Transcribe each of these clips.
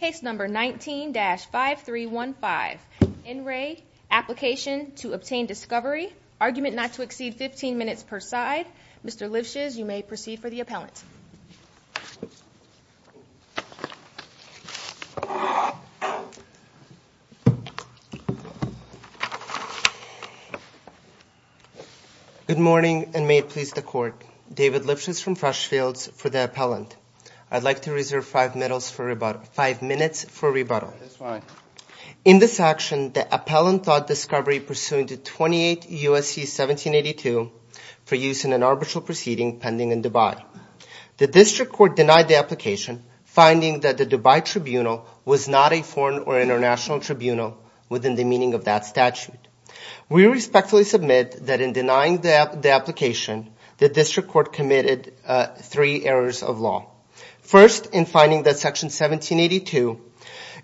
Case number 19-5315, N. Ray, Application to Obtain Discovery, Argument not to exceed 15 minutes per side. Mr. Lifshitz, you may proceed for the appellant. Good morning, and may it please the court. David Lifshitz from Freshfields for the appellant. I'd like to reserve five minutes for rebuttal. In this action, the appellant thought discovery pursuant to 28 U.S.C. 1782 for use in an arbitral proceeding pending in Dubai. The district court denied the application, finding that the Dubai tribunal was not a foreign or international tribunal within the meaning of that statute. We respectfully submit that in denying the application, the district court committed three errors of law. First, in finding that section 1782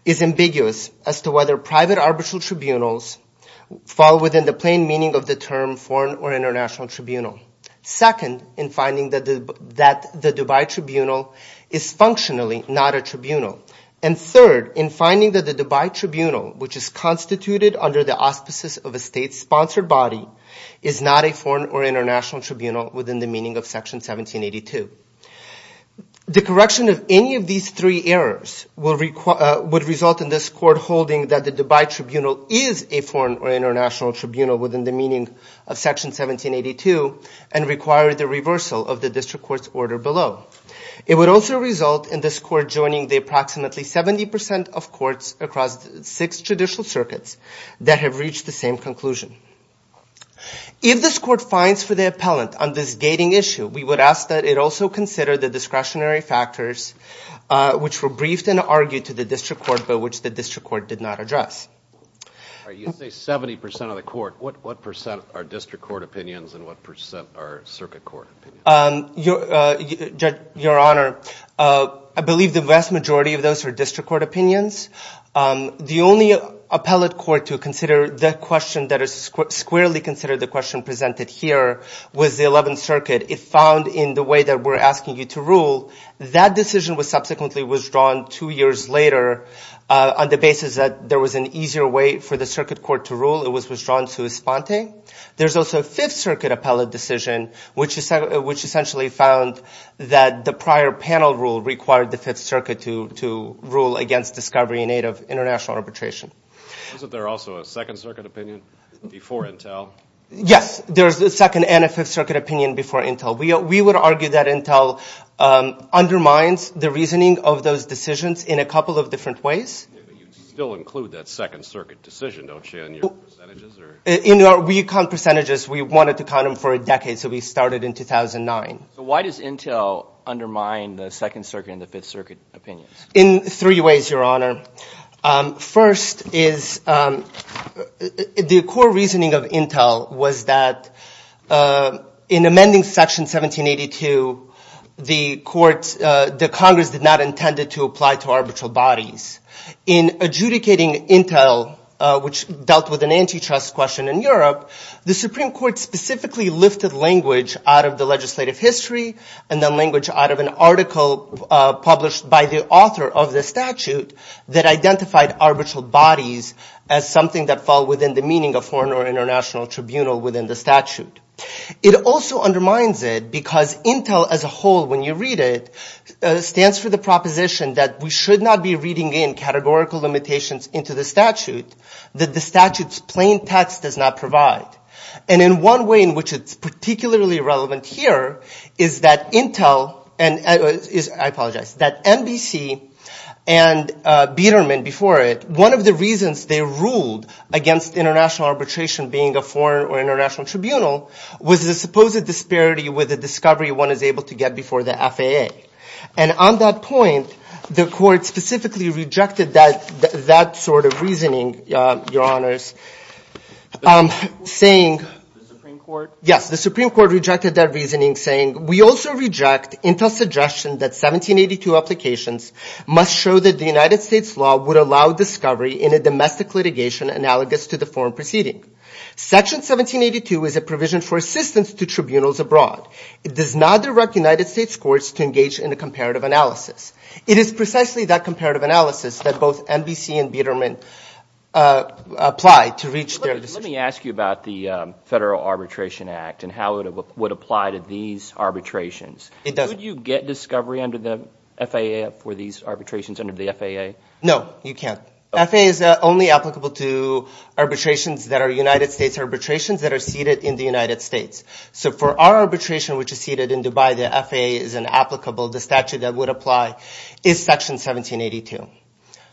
is ambiguous as to whether private arbitral tribunals fall within the plain meaning of the term foreign or international tribunal. Second, in finding that the Dubai tribunal is functionally not a tribunal. And third, in finding that the Dubai tribunal, which is constituted under the auspices of a state-sponsored body, is not a foreign or international tribunal within the meaning of section 1782. The correction of any of these three errors would result in this court holding that the Dubai tribunal is a foreign or international tribunal within the meaning of section 1782 and require the reversal of the district court's order below. It would also result in this court joining the approximately 70 percent of courts across six judicial circuits that have reached the same conclusion. If this court finds for the appellant on this gating issue, we would ask that it also consider the discretionary factors which were briefed and argued to the district court but which the district court did not address. You say 70 percent of the court. What percent are district court opinions and what percent are circuit court opinions? Your Honor, I believe the vast majority of those are district court opinions. The only appellate court to squarely consider the question presented here was the 11th Circuit. It found in the way that we're asking you to rule, that decision was subsequently withdrawn two years later on the basis that there was an easier way for the circuit court to rule. It was withdrawn to Esponte. There's also a 5th Circuit appellate decision which essentially found that the prior panel rule required the 5th Circuit to rule against discovery in aid of international arbitration. Isn't there also a 2nd Circuit opinion before Intel? Yes, there's a 2nd and a 5th Circuit opinion before Intel. We would argue that Intel undermines the reasoning of those decisions in a couple of different ways. You still include that 2nd Circuit decision, don't you, in your percentages? In our recon percentages, we wanted to count them for a decade, so we started in 2009. Why does Intel undermine the 2nd Circuit and the 5th Circuit opinions? In three ways, Your Honor. First is the core reasoning of Intel was that in amending Section 1782, the Congress did not intend to apply to arbitral bodies. In adjudicating Intel, which dealt with an antitrust question in Europe, the Supreme Court specifically lifted language out of the legislative history, and then language out of an article published by the author of the statute that identified arbitral bodies as something that fall within the meaning of foreign or international tribunal within the statute. It also undermines it because Intel as a whole, when you read it, stands for the proposition that we should not be reading in categorical limitations into the statute that the statute's plain text does not provide. And in one way in which it's particularly relevant here is that Intel, and I apologize, that NBC and Biderman before it, one of the reasons they ruled against international arbitration being a foreign or international tribunal was the supposed disparity with the discovery one is able to get before the FAA. And on that point, the court specifically rejected that sort of reasoning, Your Honors. The Supreme Court? Yes, the Supreme Court rejected that reasoning saying, we also reject Intel's suggestion that 1782 applications must show that the United States law would allow discovery in a domestic litigation analogous to the foreign proceeding. Section 1782 is a provision for assistance to tribunals abroad. It does not direct United States courts to engage in a comparative analysis. It is precisely that comparative analysis that both NBC and Biderman apply to reach their decision. Let me ask you about the Federal Arbitration Act and how it would apply to these arbitrations. Could you get discovery under the FAA for these arbitrations under the FAA? No, you can't. FAA is only applicable to arbitrations that are United States arbitrations that are seated in the United States. So for our arbitration, which is seated in Dubai, the FAA is inapplicable. The statute that would apply is Section 1782.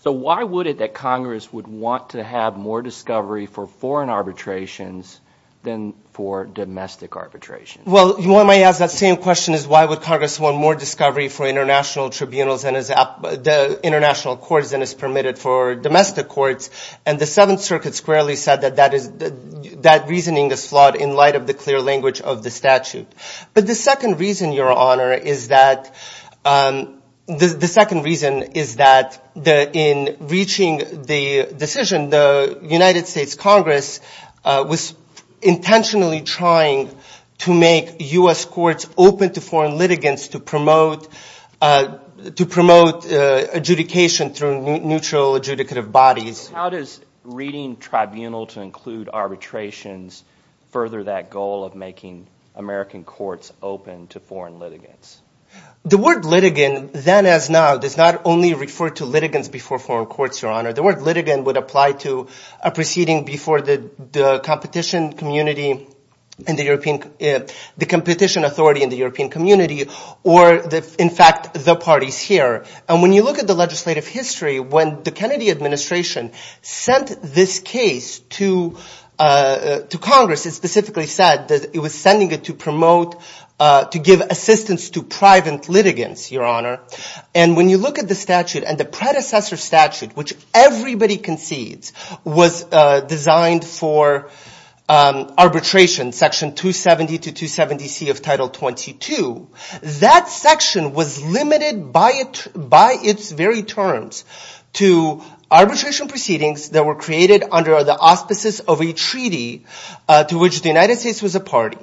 So why would it that Congress would want to have more discovery for foreign arbitrations than for domestic arbitrations? Well, you might ask that same question is why would Congress want more discovery for international tribunals and international courts than is permitted for domestic courts? And the Seventh Circuit squarely said that that reasoning is flawed in light of the clear language of the statute. But the second reason, Your Honor, is that the second reason is that in reaching the decision, the United States Congress was intentionally trying to make U.S. courts open to foreign litigants to promote adjudication through neutral adjudicative bodies. How does reading tribunal to include arbitrations further that goal of making American courts open to foreign litigants? The word litigant then as now does not only refer to litigants before foreign courts, Your Honor. The word litigant would apply to a proceeding before the competition authority in the European community or in fact the parties here. And when you look at the legislative history, when the Kennedy administration sent this case to Congress, it specifically said that it was sending it to promote, to give assistance to private litigants, Your Honor. And when you look at the statute and the predecessor statute which everybody concedes was designed for arbitration, Section 270 to 270C of Title 22, that section was limited by its very terms to arbitration proceedings that were created under the auspices of a treaty to which the United States was a party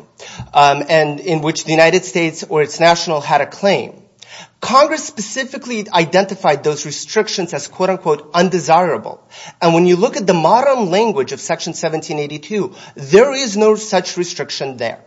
and in which the United States or its national had a claim. Congress specifically identified those restrictions as quote-unquote undesirable. And when you look at the modern language of Section 1782, there is no such restriction there.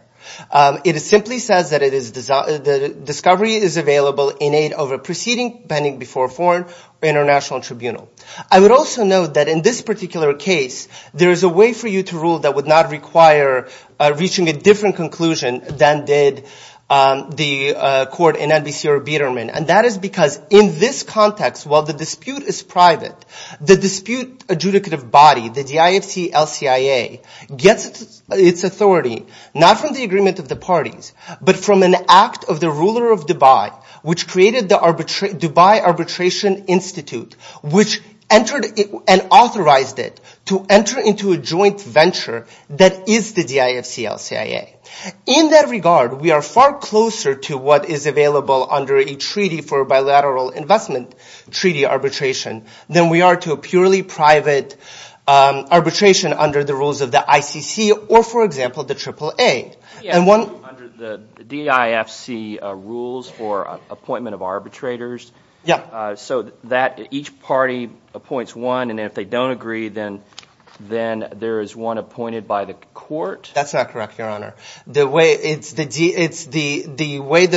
It simply says that the discovery is available in aid of a proceeding pending before a foreign or international tribunal. I would also note that in this particular case, there is a way for you to rule that would not require reaching a different conclusion than did the court in NBC or Biderman. And that is because in this context, while the dispute is private, the dispute adjudicative body, the DIFC-LCIA, gets its authority not from the agreement of the parties but from an act of the ruler of Dubai which created the Dubai Arbitration Institute which entered and authorized it to enter into a joint venture that is the DIFC-LCIA. In that regard, we are far closer to what is available under a treaty for bilateral investment treaty arbitration than we are to a purely private arbitration under the rules of the ICC or for example, the AAA. And one… Yeah, under the DIFC rules for appointment of arbitrators. Yeah. So that each party appoints one and if they don't agree, then there is one appointed by the court? That's not correct, Your Honor. The way that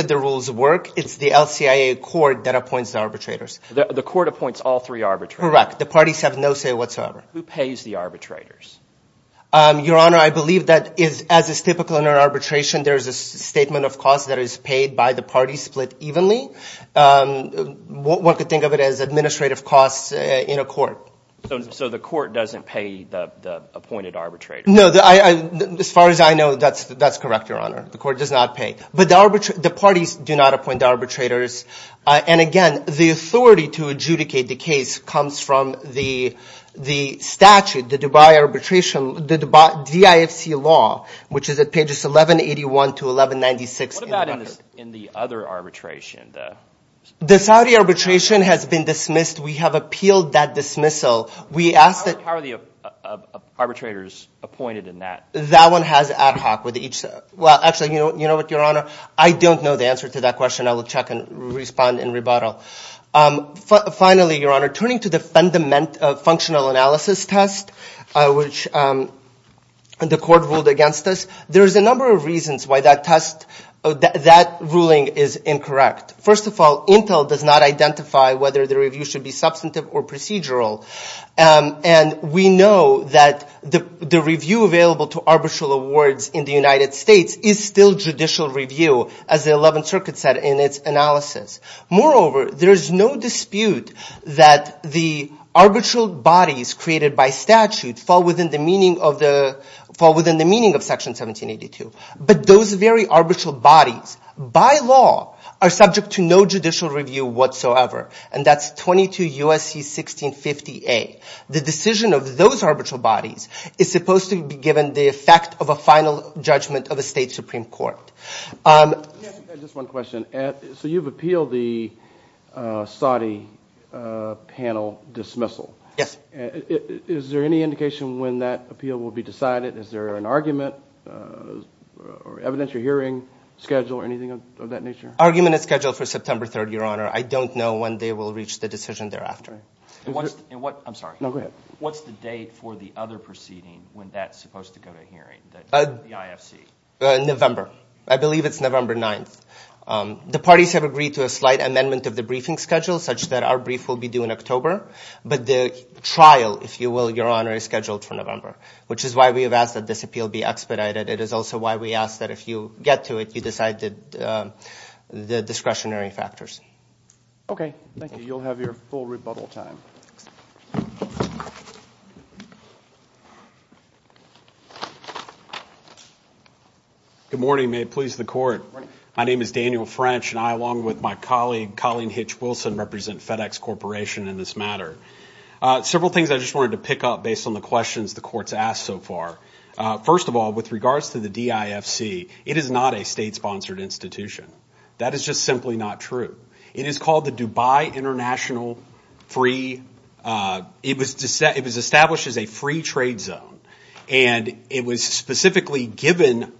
the rules work, it's the LCIA court that appoints the arbitrators. The court appoints all three arbitrators? Correct. The parties have no say whatsoever. Who pays the arbitrators? Your Honor, I believe that as is typical under arbitration, there is a statement of cost that is paid by the parties split evenly. One could think of it as administrative costs in a court. So the court doesn't pay the appointed arbitrator? No, as far as I know, that's correct, Your Honor. The court does not pay. But the parties do not appoint arbitrators. And again, the authority to adjudicate the case comes from the statute, the Dubai arbitration, the DIFC law, which is at pages 1181 to 1196. What about in the other arbitration? The Saudi arbitration has been dismissed. We have appealed that dismissal. How are the arbitrators appointed in that? That one has ad hoc with each. Well, actually, you know what, Your Honor? I don't know the answer to that question. I will check and respond in rebuttal. Finally, Your Honor, turning to the functional analysis test, which the court ruled against us, there is a number of reasons why that ruling is incorrect. First of all, Intel does not identify whether the review should be substantive or procedural. And we know that the review available to arbitral awards in the United States is still judicial review, as the 11th Circuit said in its analysis. Moreover, there is no dispute that the arbitral bodies created by statute fall within the meaning of Section 1782. But those very arbitral bodies, by law, are subject to no judicial review whatsoever. And that's 22 U.S.C. 1650A. The decision of those arbitral bodies is supposed to be given the effect of a final judgment of a state supreme court. Just one question. So you've appealed the Saudi panel dismissal. Yes. Is there any indication when that appeal will be decided? Is there an argument or evidentiary hearing schedule or anything of that nature? Argument is scheduled for September 3rd, Your Honor. I don't know when they will reach the decision thereafter. I'm sorry. No, go ahead. What's the date for the other proceeding when that's supposed to go to hearing, the IFC? November. I believe it's November 9th. The parties have agreed to a slight amendment of the briefing schedule such that our brief will be due in October. But the trial, if you will, Your Honor, is scheduled for November, which is why we have asked that this appeal be expedited. It is also why we ask that if you get to it, you decide the discretionary factors. Okay, thank you. You'll have your full rebuttal time. Good morning. May it please the court. My name is Daniel French, and I, along with my colleague, Colleen Hitch Wilson, represent FedEx Corporation in this matter. Several things I just wanted to pick up based on the questions the court's asked so far. First of all, with regards to the DIFC, it is not a state-sponsored institution. That is just simply not true. It was established as a free trade zone, and it was specifically given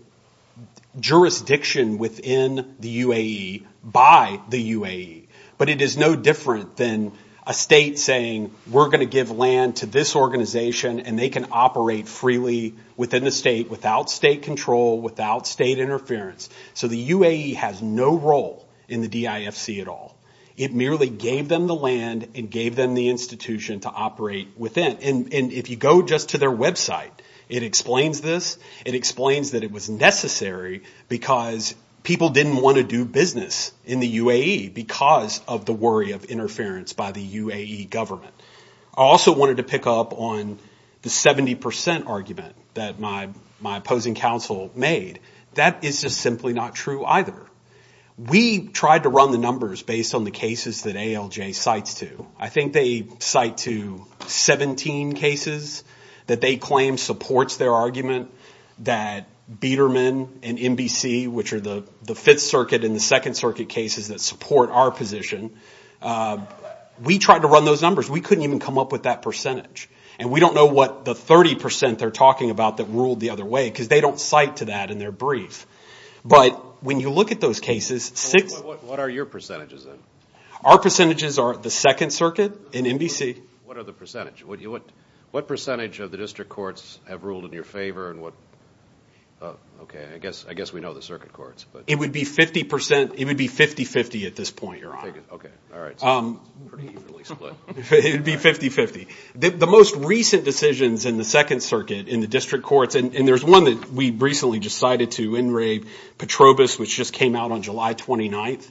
jurisdiction within the UAE by the UAE. But it is no different than a state saying, we're going to give land to this organization, and they can operate freely within the state without state control, without state interference. So the UAE has no role in the DIFC at all. It merely gave them the land and gave them the institution to operate within. And if you go just to their website, it explains this. It explains that it was necessary because people didn't want to do business in the UAE because of the worry of interference by the UAE government. I also wanted to pick up on the 70 percent argument that my opposing counsel made. That is just simply not true either. We tried to run the numbers based on the cases that ALJ cites to. I think they cite to 17 cases that they claim supports their argument that Biedermann and NBC, which are the Fifth Circuit and the Second Circuit cases that support our position, we tried to run those numbers. We couldn't even come up with that percentage. And we don't know what the 30 percent they're talking about that ruled the other way because they don't cite to that in their brief. But when you look at those cases... What are your percentages then? Our percentages are the Second Circuit and NBC. What are the percentages? What percentage of the district courts have ruled in your favor? Okay, I guess we know the circuit courts. It would be 50 percent. It would be 50-50 at this point, Your Honor. Okay, all right. It would be 50-50. The most recent decisions in the Second Circuit in the district courts, and there's one that we recently just cited to In re Petrobis, which just came out on July 29th.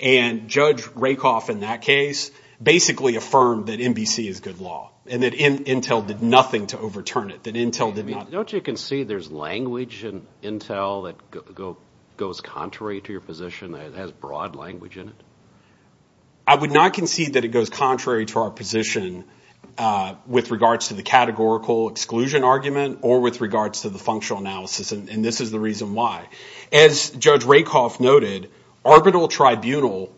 And Judge Rakoff in that case basically affirmed that NBC is good law and that Intel did nothing to overturn it, that Intel did not... Don't you concede there's language in Intel that goes contrary to your position, that has broad language in it? I would not concede that it goes contrary to our position with regards to the categorical exclusion argument or with regards to the functional analysis. And this is the reason why. As Judge Rakoff noted, arbitral tribunal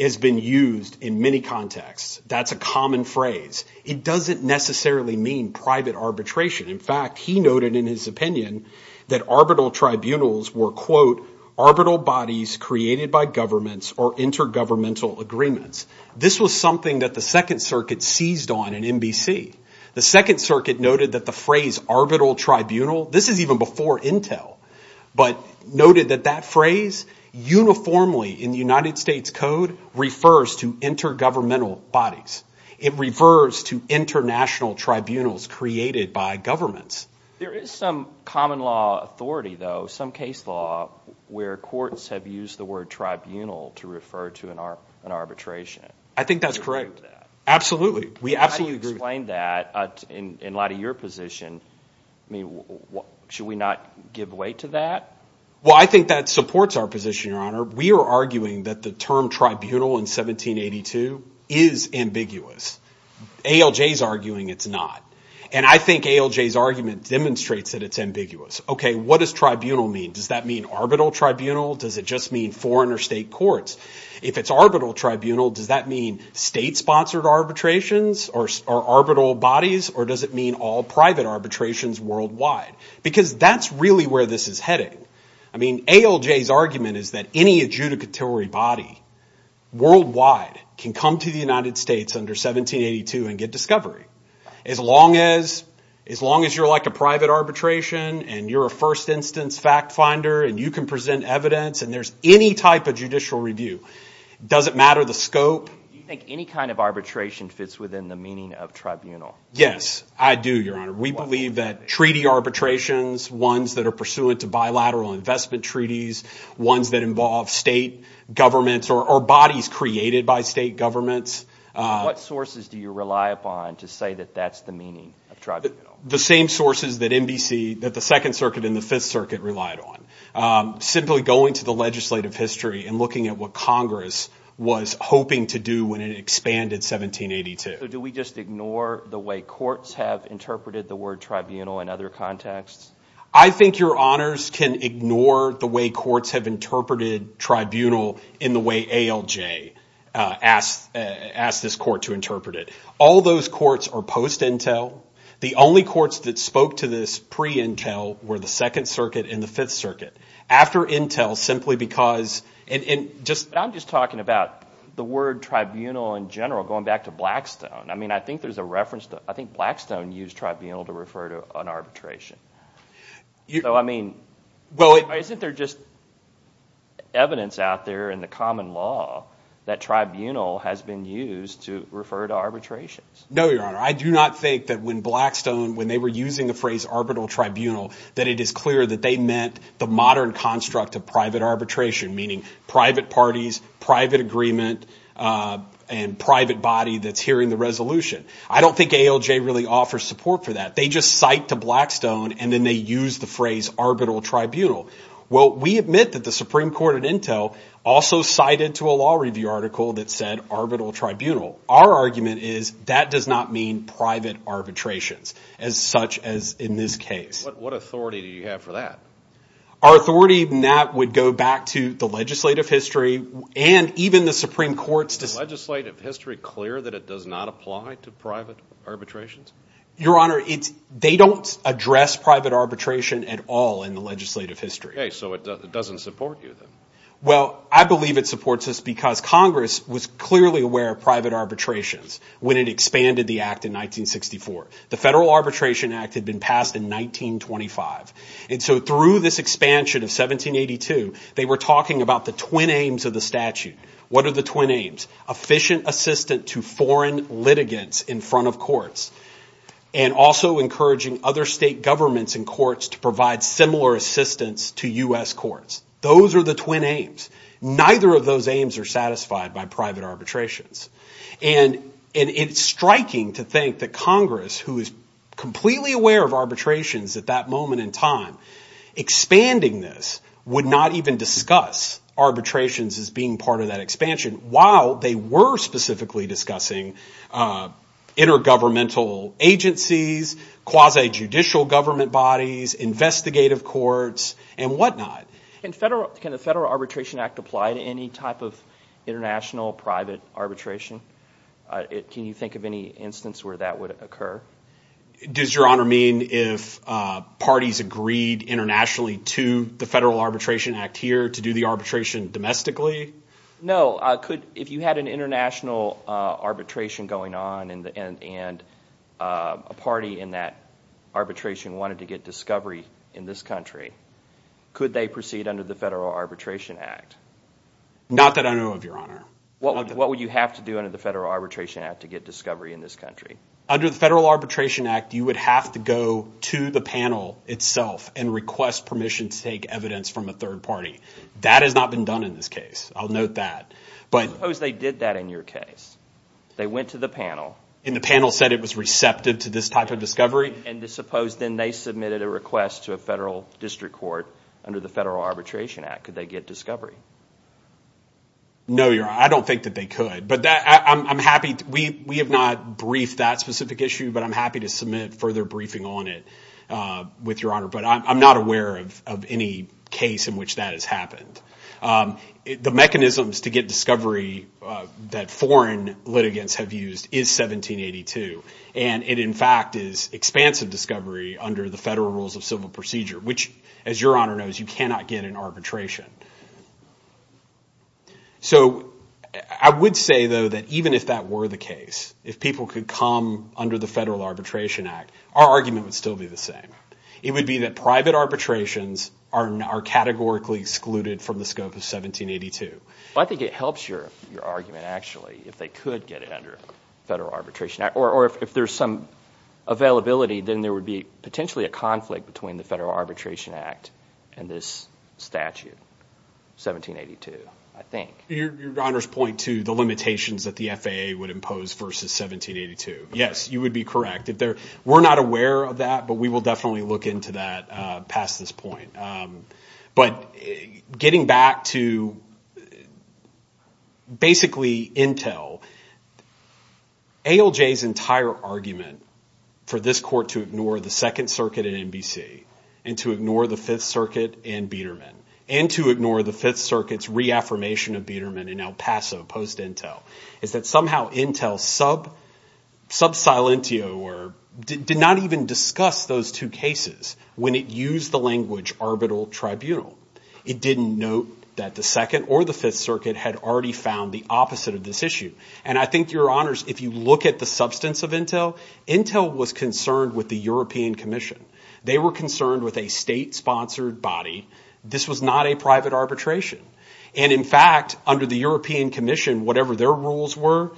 has been used in many contexts. That's a common phrase. It doesn't necessarily mean private arbitration. In fact, he noted in his opinion that arbitral tribunals were, quote, arbitral bodies created by governments or intergovernmental agreements. This was something that the Second Circuit seized on in NBC. The Second Circuit noted that the phrase arbitral tribunal, this is even before Intel, but noted that that phrase uniformly in the United States Code refers to intergovernmental bodies. It refers to international tribunals created by governments. There is some common law authority, though, some case law where courts have used the word tribunal to refer to an arbitration. I think that's correct. Absolutely. How do you explain that in light of your position? Should we not give weight to that? Well, I think that supports our position, Your Honor. We are arguing that the term tribunal in 1782 is ambiguous. ALJ is arguing it's not. And I think ALJ's argument demonstrates that it's ambiguous. OK, what does tribunal mean? Does that mean arbitral tribunal? Does it just mean foreign or state courts? If it's arbitral tribunal, does that mean state-sponsored arbitrations or arbitral bodies? Or does it mean all private arbitrations worldwide? Because that's really where this is heading. I mean, ALJ's argument is that any adjudicatory body worldwide can come to the United States under 1782 and get discovery. As long as you're like a private arbitration and you're a first instance fact finder and you can present evidence and there's any type of judicial review, does it matter the scope? Do you think any kind of arbitration fits within the meaning of tribunal? Yes, I do, Your Honor. We believe that treaty arbitrations, ones that are pursuant to bilateral investment treaties, ones that involve state governments or bodies created by state governments. What sources do you rely upon to say that that's the meaning of tribunal? The same sources that NBC, that the Second Circuit and the Fifth Circuit relied on. Simply going to the legislative history and looking at what Congress was hoping to do when it expanded 1782. So do we just ignore the way courts have interpreted the word tribunal in other contexts? I think Your Honors can ignore the way courts have interpreted tribunal in the way ALJ asked this court to interpret it. All those courts are post-intel. The only courts that spoke to this pre-intel were the Second Circuit and the Fifth Circuit. After intel, simply because... I'm just talking about the word tribunal in general, going back to Blackstone. I think Blackstone used tribunal to refer to an arbitration. Isn't there just evidence out there in the common law that tribunal has been used to refer to arbitrations? No, Your Honor. I do not think that when Blackstone, the Supreme Court and intel, that it is clear that they meant the modern construct of private arbitration, meaning private parties, private agreement, and private body that's hearing the resolution. I don't think ALJ really offers support for that. They just cite to Blackstone and then they use the phrase arbitral tribunal. Well, we admit that the Supreme Court and intel also cited to a law review article that said arbitral tribunal. Our argument is that does not mean private arbitrations and what authority do you have for that? Our authority in that would go back to the legislative history and even the Supreme Court's... Is the legislative history clear that it does not apply to private arbitrations? Your Honor, they don't address private arbitration at all in the legislative history. Okay, so it doesn't support you then? Well, I believe it supports us because Congress was clearly aware of private arbitrations when it expanded the act in 1964. The Federal Arbitration Act had been passed in 1925. And so through this expansion of 1782, they were talking about the twin aims of the statute. What are the twin aims? Efficient assistance to foreign litigants in front of courts and also encouraging other state governments and courts to provide similar assistance to US courts. Those are the twin aims. Neither of those aims are satisfied by private arbitrations. And it's striking to think that Congress who is completely aware of arbitrations at that moment in time, expanding this, would not even discuss arbitrations as being part of that expansion while they were specifically discussing intergovernmental agencies, quasi-judicial government bodies, investigative courts, and whatnot. Can the Federal Arbitration Act apply to any type of international private arbitration? Can you think of any instance where that would occur? Does Your Honor mean if parties agreed internationally to the Federal Arbitration Act here to do the arbitration domestically? No. If you had an international arbitration going on and a party in that arbitration wanted to get discovery in this country, could they proceed under the Federal Arbitration Act? Not that I know of, Your Honor. What would you have to do under the Federal Arbitration Act to get discovery in this country? Under the Federal Arbitration Act, you would have to go to the panel itself and request permission to take evidence from a third party. That has not been done in this case. I'll note that. Suppose they did that in your case. They went to the panel. And the panel said it was receptive to this type of discovery. And suppose then they submitted a request to a federal district court under the Federal Arbitration Act. Could they get discovery? No, Your Honor. I don't think that they could. But I'm happy. We have not briefed that specific issue, but I'm happy to submit further briefing on it with Your Honor. But I'm not aware of any case in which that has happened. The mechanisms to get discovery that foreign litigants have used is 1782. And it, in fact, is expansive discovery under the federal rules of civil procedure, which, as Your Honor knows, you cannot get in arbitration. So I would say, though, that even if that were the case, if people could come under the Federal Arbitration Act, our argument would still be the same. It would be that private arbitrations are categorically excluded from the scope of 1782. Well, I think it helps your argument, actually, if they could get it under the Federal Arbitration Act. Or if there's some availability, then there would be potentially a conflict between the Federal Arbitration Act and this statute. 1782, I think. Your Honor's point, too, the limitations that the FAA would impose versus 1782. Yes, you would be correct. We're not aware of that, but we will definitely look into that past this point. But getting back to, basically, Intel, ALJ's entire argument for this court to ignore the Second Circuit and NBC and to ignore the Fifth Circuit and Biedermann and to ignore the Fifth Circuit's reaffirmation of Biedermann in El Paso post-Intel is that, somehow, Intel sub silentio or did not even discuss those two cases when it used the language arbitral tribunal. It didn't note that the Second or the Fifth Circuit had already found the opposite of this issue. And I think, Your Honors, if you look at the substance of Intel, Intel was concerned with the European Commission. They were concerned with a state-sponsored body. This was not a private arbitration. And, in fact, under the European Commission, whatever their rules were,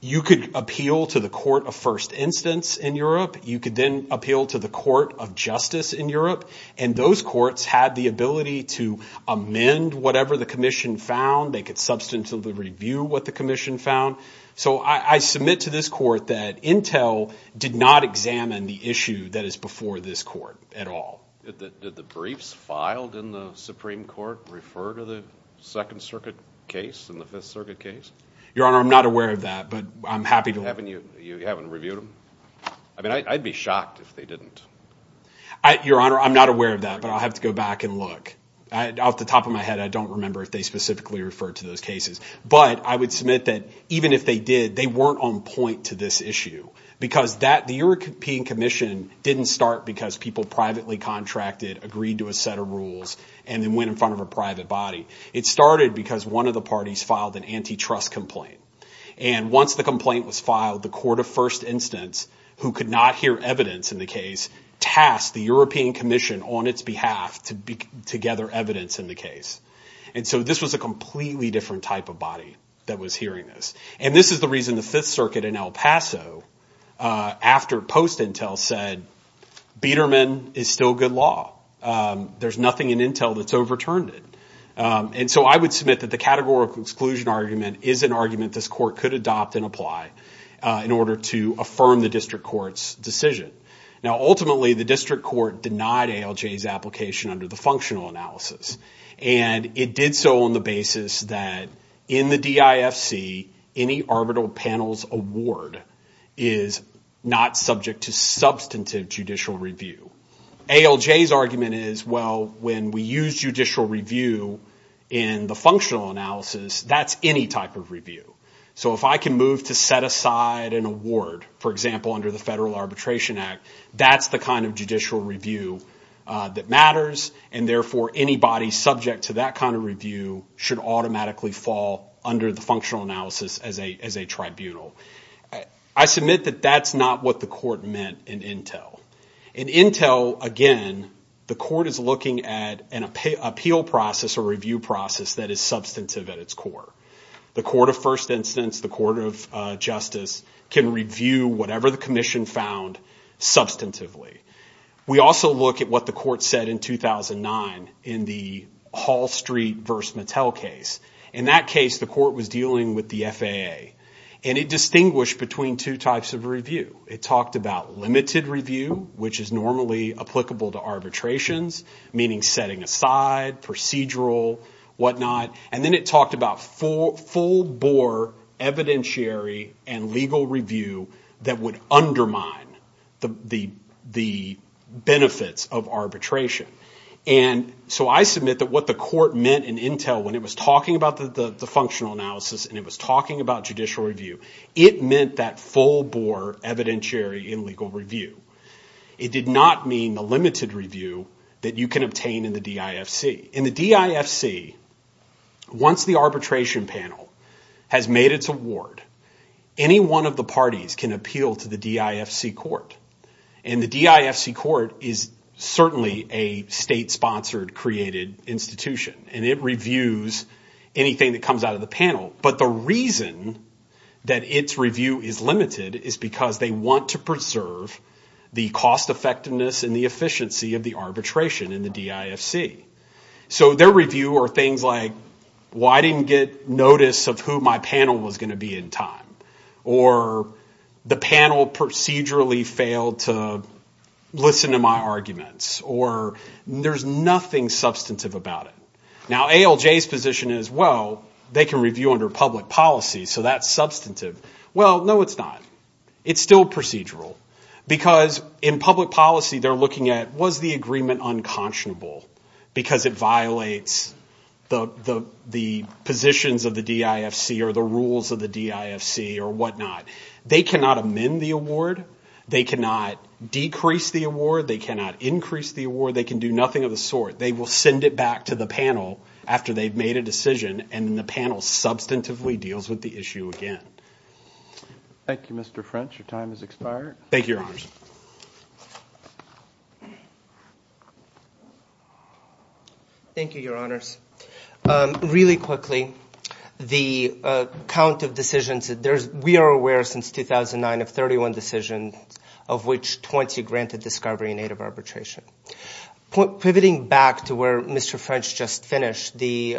you could appeal to the Court of First Instance in Europe. You could then appeal to the Court of Justice in Europe. And those courts had the ability to amend whatever the Commission found. They could substantially review what the Commission found. So, I submit to this court that Intel did not examine the issue that is before this court at all. Did the briefs filed in the Supreme Court refer to the Second Circuit case and the Fifth Circuit case? Your Honor, I'm not aware of that, but I'm happy to... You haven't reviewed them? I mean, I'd be shocked if they didn't. Your Honor, I'm not aware of that, but I'll have to go back and look. Off the top of my head, I don't remember if they specifically referred to those cases. But I would submit that even if they did, they weren't on point to this issue because that, the European Commission didn't start because people privately contracted, agreed to a set of rules, and then went in front of a private body. It started because one of the parties filed an antitrust complaint. And once the complaint was filed, the court of first instance, who could not hear evidence in the case, tasked the European Commission on its behalf to gather evidence in the case. And so, this was a completely different type of body that was hearing this. And this is the reason the Fifth Circuit in El Paso, after post-Intel, said, Beiderman is still good law. There's nothing in Intel that's overturned it. And so, I would submit that the categorical exclusion argument is an argument this court could adopt and apply in order to affirm the district court's decision. Now, ultimately, the district court denied ALJ's application under the functional analysis. And it did so on the basis that in the DIFC, any arbitral panels award is not subject to substantive judicial review. ALJ's argument is, well, when we use judicial review in the functional analysis, that's any type of review. So, if I can move to set aside an award, for example, under the Federal Arbitration Act, that's the kind of judicial review that matters. And therefore, anybody subject to that kind of review should automatically fall under the functional analysis as a tribunal. I submit that that's not what the court meant in INTEL. In INTEL, again, the court is looking at an appeal process or review process that is substantive at its core. The court of first instance, the court of justice, can review whatever the commission found substantively. We also look at what the court said in 2009 in the Hall Street v. Mattel case. In that case, the court was dealing with the FAA. And it distinguished between two types of review. It talked about limited review, which is normally applicable to arbitrations, meaning setting aside, procedural, whatnot. And then it talked about full-bore evidentiary and legal review that would undermine the benefits of arbitration. And so I submit that what the court meant in INTEL when it was talking about the functional analysis and it was talking about judicial review, it meant that full-bore evidentiary and legal review. It did not mean the limited review that you can obtain in the DIFC. In the DIFC, once the arbitration panel has made its award, any one of the parties can appeal to the DIFC court. And the DIFC court is certainly a state-sponsored, created institution. And it reviews anything that comes out of the panel. But the reason that its review is limited is because they want to preserve the cost-effectiveness and the efficiency of the arbitration in the DIFC. So their review are things like, well, I didn't get notice of who my panel was going to be in time. Or, the panel procedurally failed to listen to my arguments. Or, there's nothing substantive about it. Now, ALJ's position is, well, they can review under public policy, so that's substantive. Well, no, it's not. It's still procedural. Because, in public policy, they're looking at, was the agreement unconscionable? Because it violates the positions of the DIFC or the rules of the DIFC or whatnot. They cannot amend the award. They cannot decrease the award. They cannot increase the award. They can do nothing of the sort. They will send it back to the panel after they've made a decision, and then the panel substantively deals with the issue again. Thank you, Mr. French. Your time has expired. Thank you, Your Honors. Thank you, Your Honors. Really quickly, the count of decisions that there's, we are aware since 2009 of 31 decisions of which 20 granted discovery in aid of arbitration. Pivoting back to where Mr. French just finished, the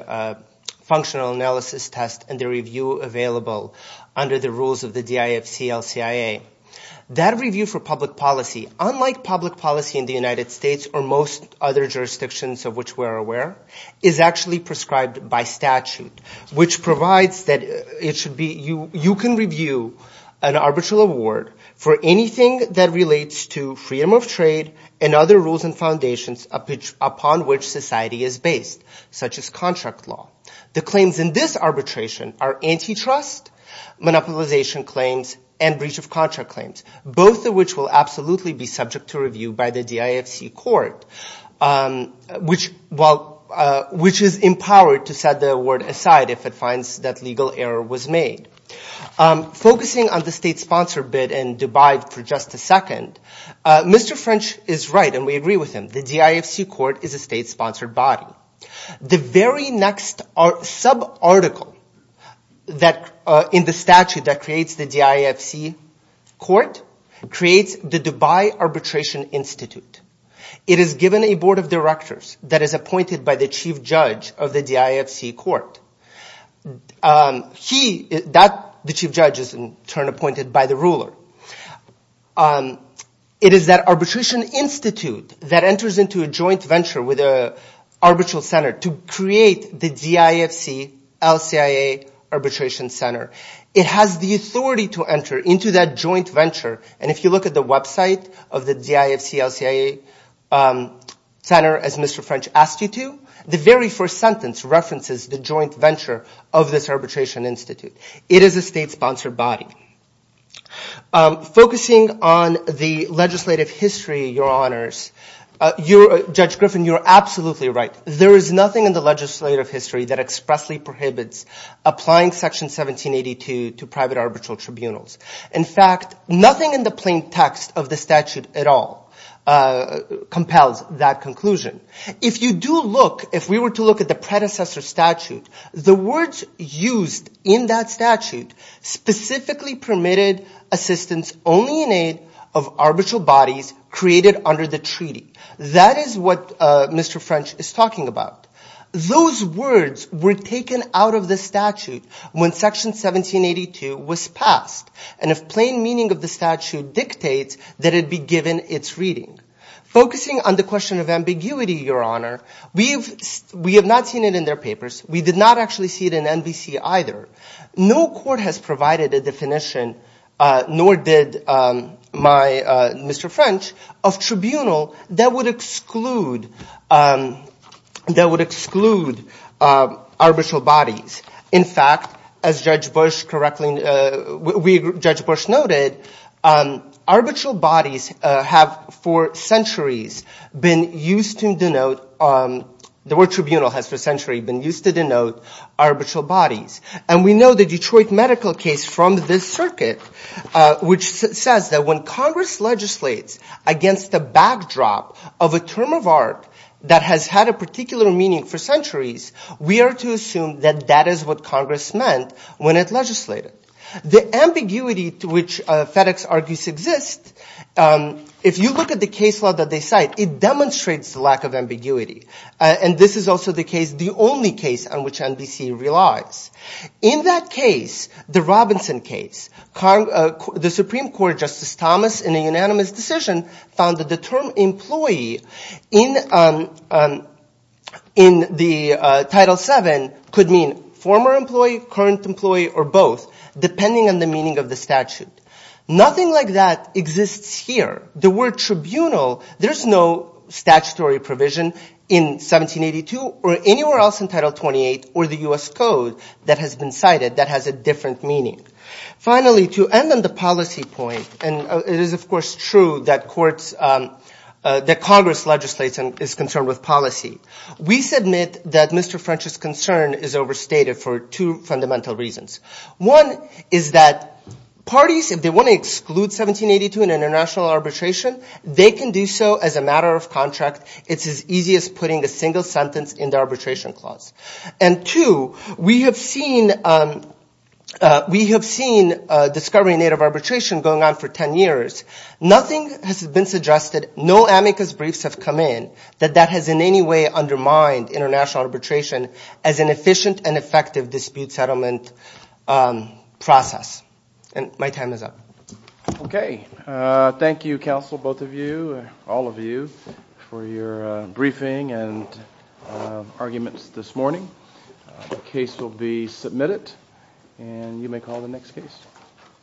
functional analysis test and the review available under the rules of the DIFC, LCIA. That review for public policy, unlike public policy in the United States or most other jurisdictions of which we're aware, is actually prescribed by statute which provides that it should be, you can review an arbitral award for anything that relates to freedom of trade and other rules and foundations upon which society is based such as contract law. The claims in this arbitration are antitrust, monopolization claims, and breach of contract claims, both of which will absolutely be subject to review by the DIFC court which, well, which is empowered to set the award aside if it finds that legal error was made. Focusing on the state sponsor bid in Dubai for just a second, Mr. French is right and we agree with him. The DIFC court is a state sponsored body. The very next sub-article that, in the statute that creates the DIFC court creates the Dubai Arbitration Institute. It is given a board of directors that is appointed by the chief judge of the DIFC court. He, that, the chief judge is in turn appointed by the ruler. It is that arbitration institute that enters into a joint venture with an arbitral center to create the DIFC LCIA arbitration center. It has the authority to enter into that joint venture and if you look at the website of the DIFC LCIA center as Mr. French asked you to, the very first sentence references the joint center. You're, Judge Griffin, you're absolutely right. There is nothing in the legislative history that expressly prohibits applying section 1782 to private arbitral tribunals. In fact, nothing in the plain text of the statute at all compels that conclusion. If you do look, if we were to look at the predecessor statute, the words used in that statute specifically permitted assistance only in aid of arbitral bodies created under the treaty. That is what Mr. French is talking about. Those words were taken out of the statute when section 1782 was passed and if plain meaning of the statute dictates that it be given its reading. Focusing on the question of ambiguity, Your Honor, we have not seen it in their papers. We did not actually see it in NBC either. No court has provided a definition nor did Mr. French of tribunal that would exclude arbitral bodies. In fact, as Judge Bush noted, arbitral bodies have for centuries been used to denote arbitral bodies. We know the Detroit medical case from this circuit which says that when Congress legislates against the backdrop of a term of art that has had a particular meaning for centuries, we are to assume that that is what Congress meant when it legislated. The ambiguity to which FedEx argues exists, if you look at the case law that they cite, it demonstrates the lack This is also the only case on which NBC relies. In that case, the Robinson case, the Supreme Court Justice Thomas in a case like this, there is no statutory provision in 1782 or anywhere else in title 28 or the U.S. code that has been cited that has a different meaning. Finally, to end on the policy point, it is true that Congress legislates and is concerned with policy. We submit that Mr. French's concern is overstated for two fundamental reasons. One is that parties if they want to exclude 1782 in international arbitration, they can do so as a matter of contract. It is as easy as putting a single sentence in the arbitration clause. Two, we have seen discovery in native arbitration going on for ten years. Nothing has been suggested, no amicus briefs have come in that has undermined international arbitration as an efficient and effective dispute settlement process. My time is up. Thank you. Okay. Thank you, counsel, both of you, all of you, for your briefing and arguments this morning. The case will be submitted and you may call the next case.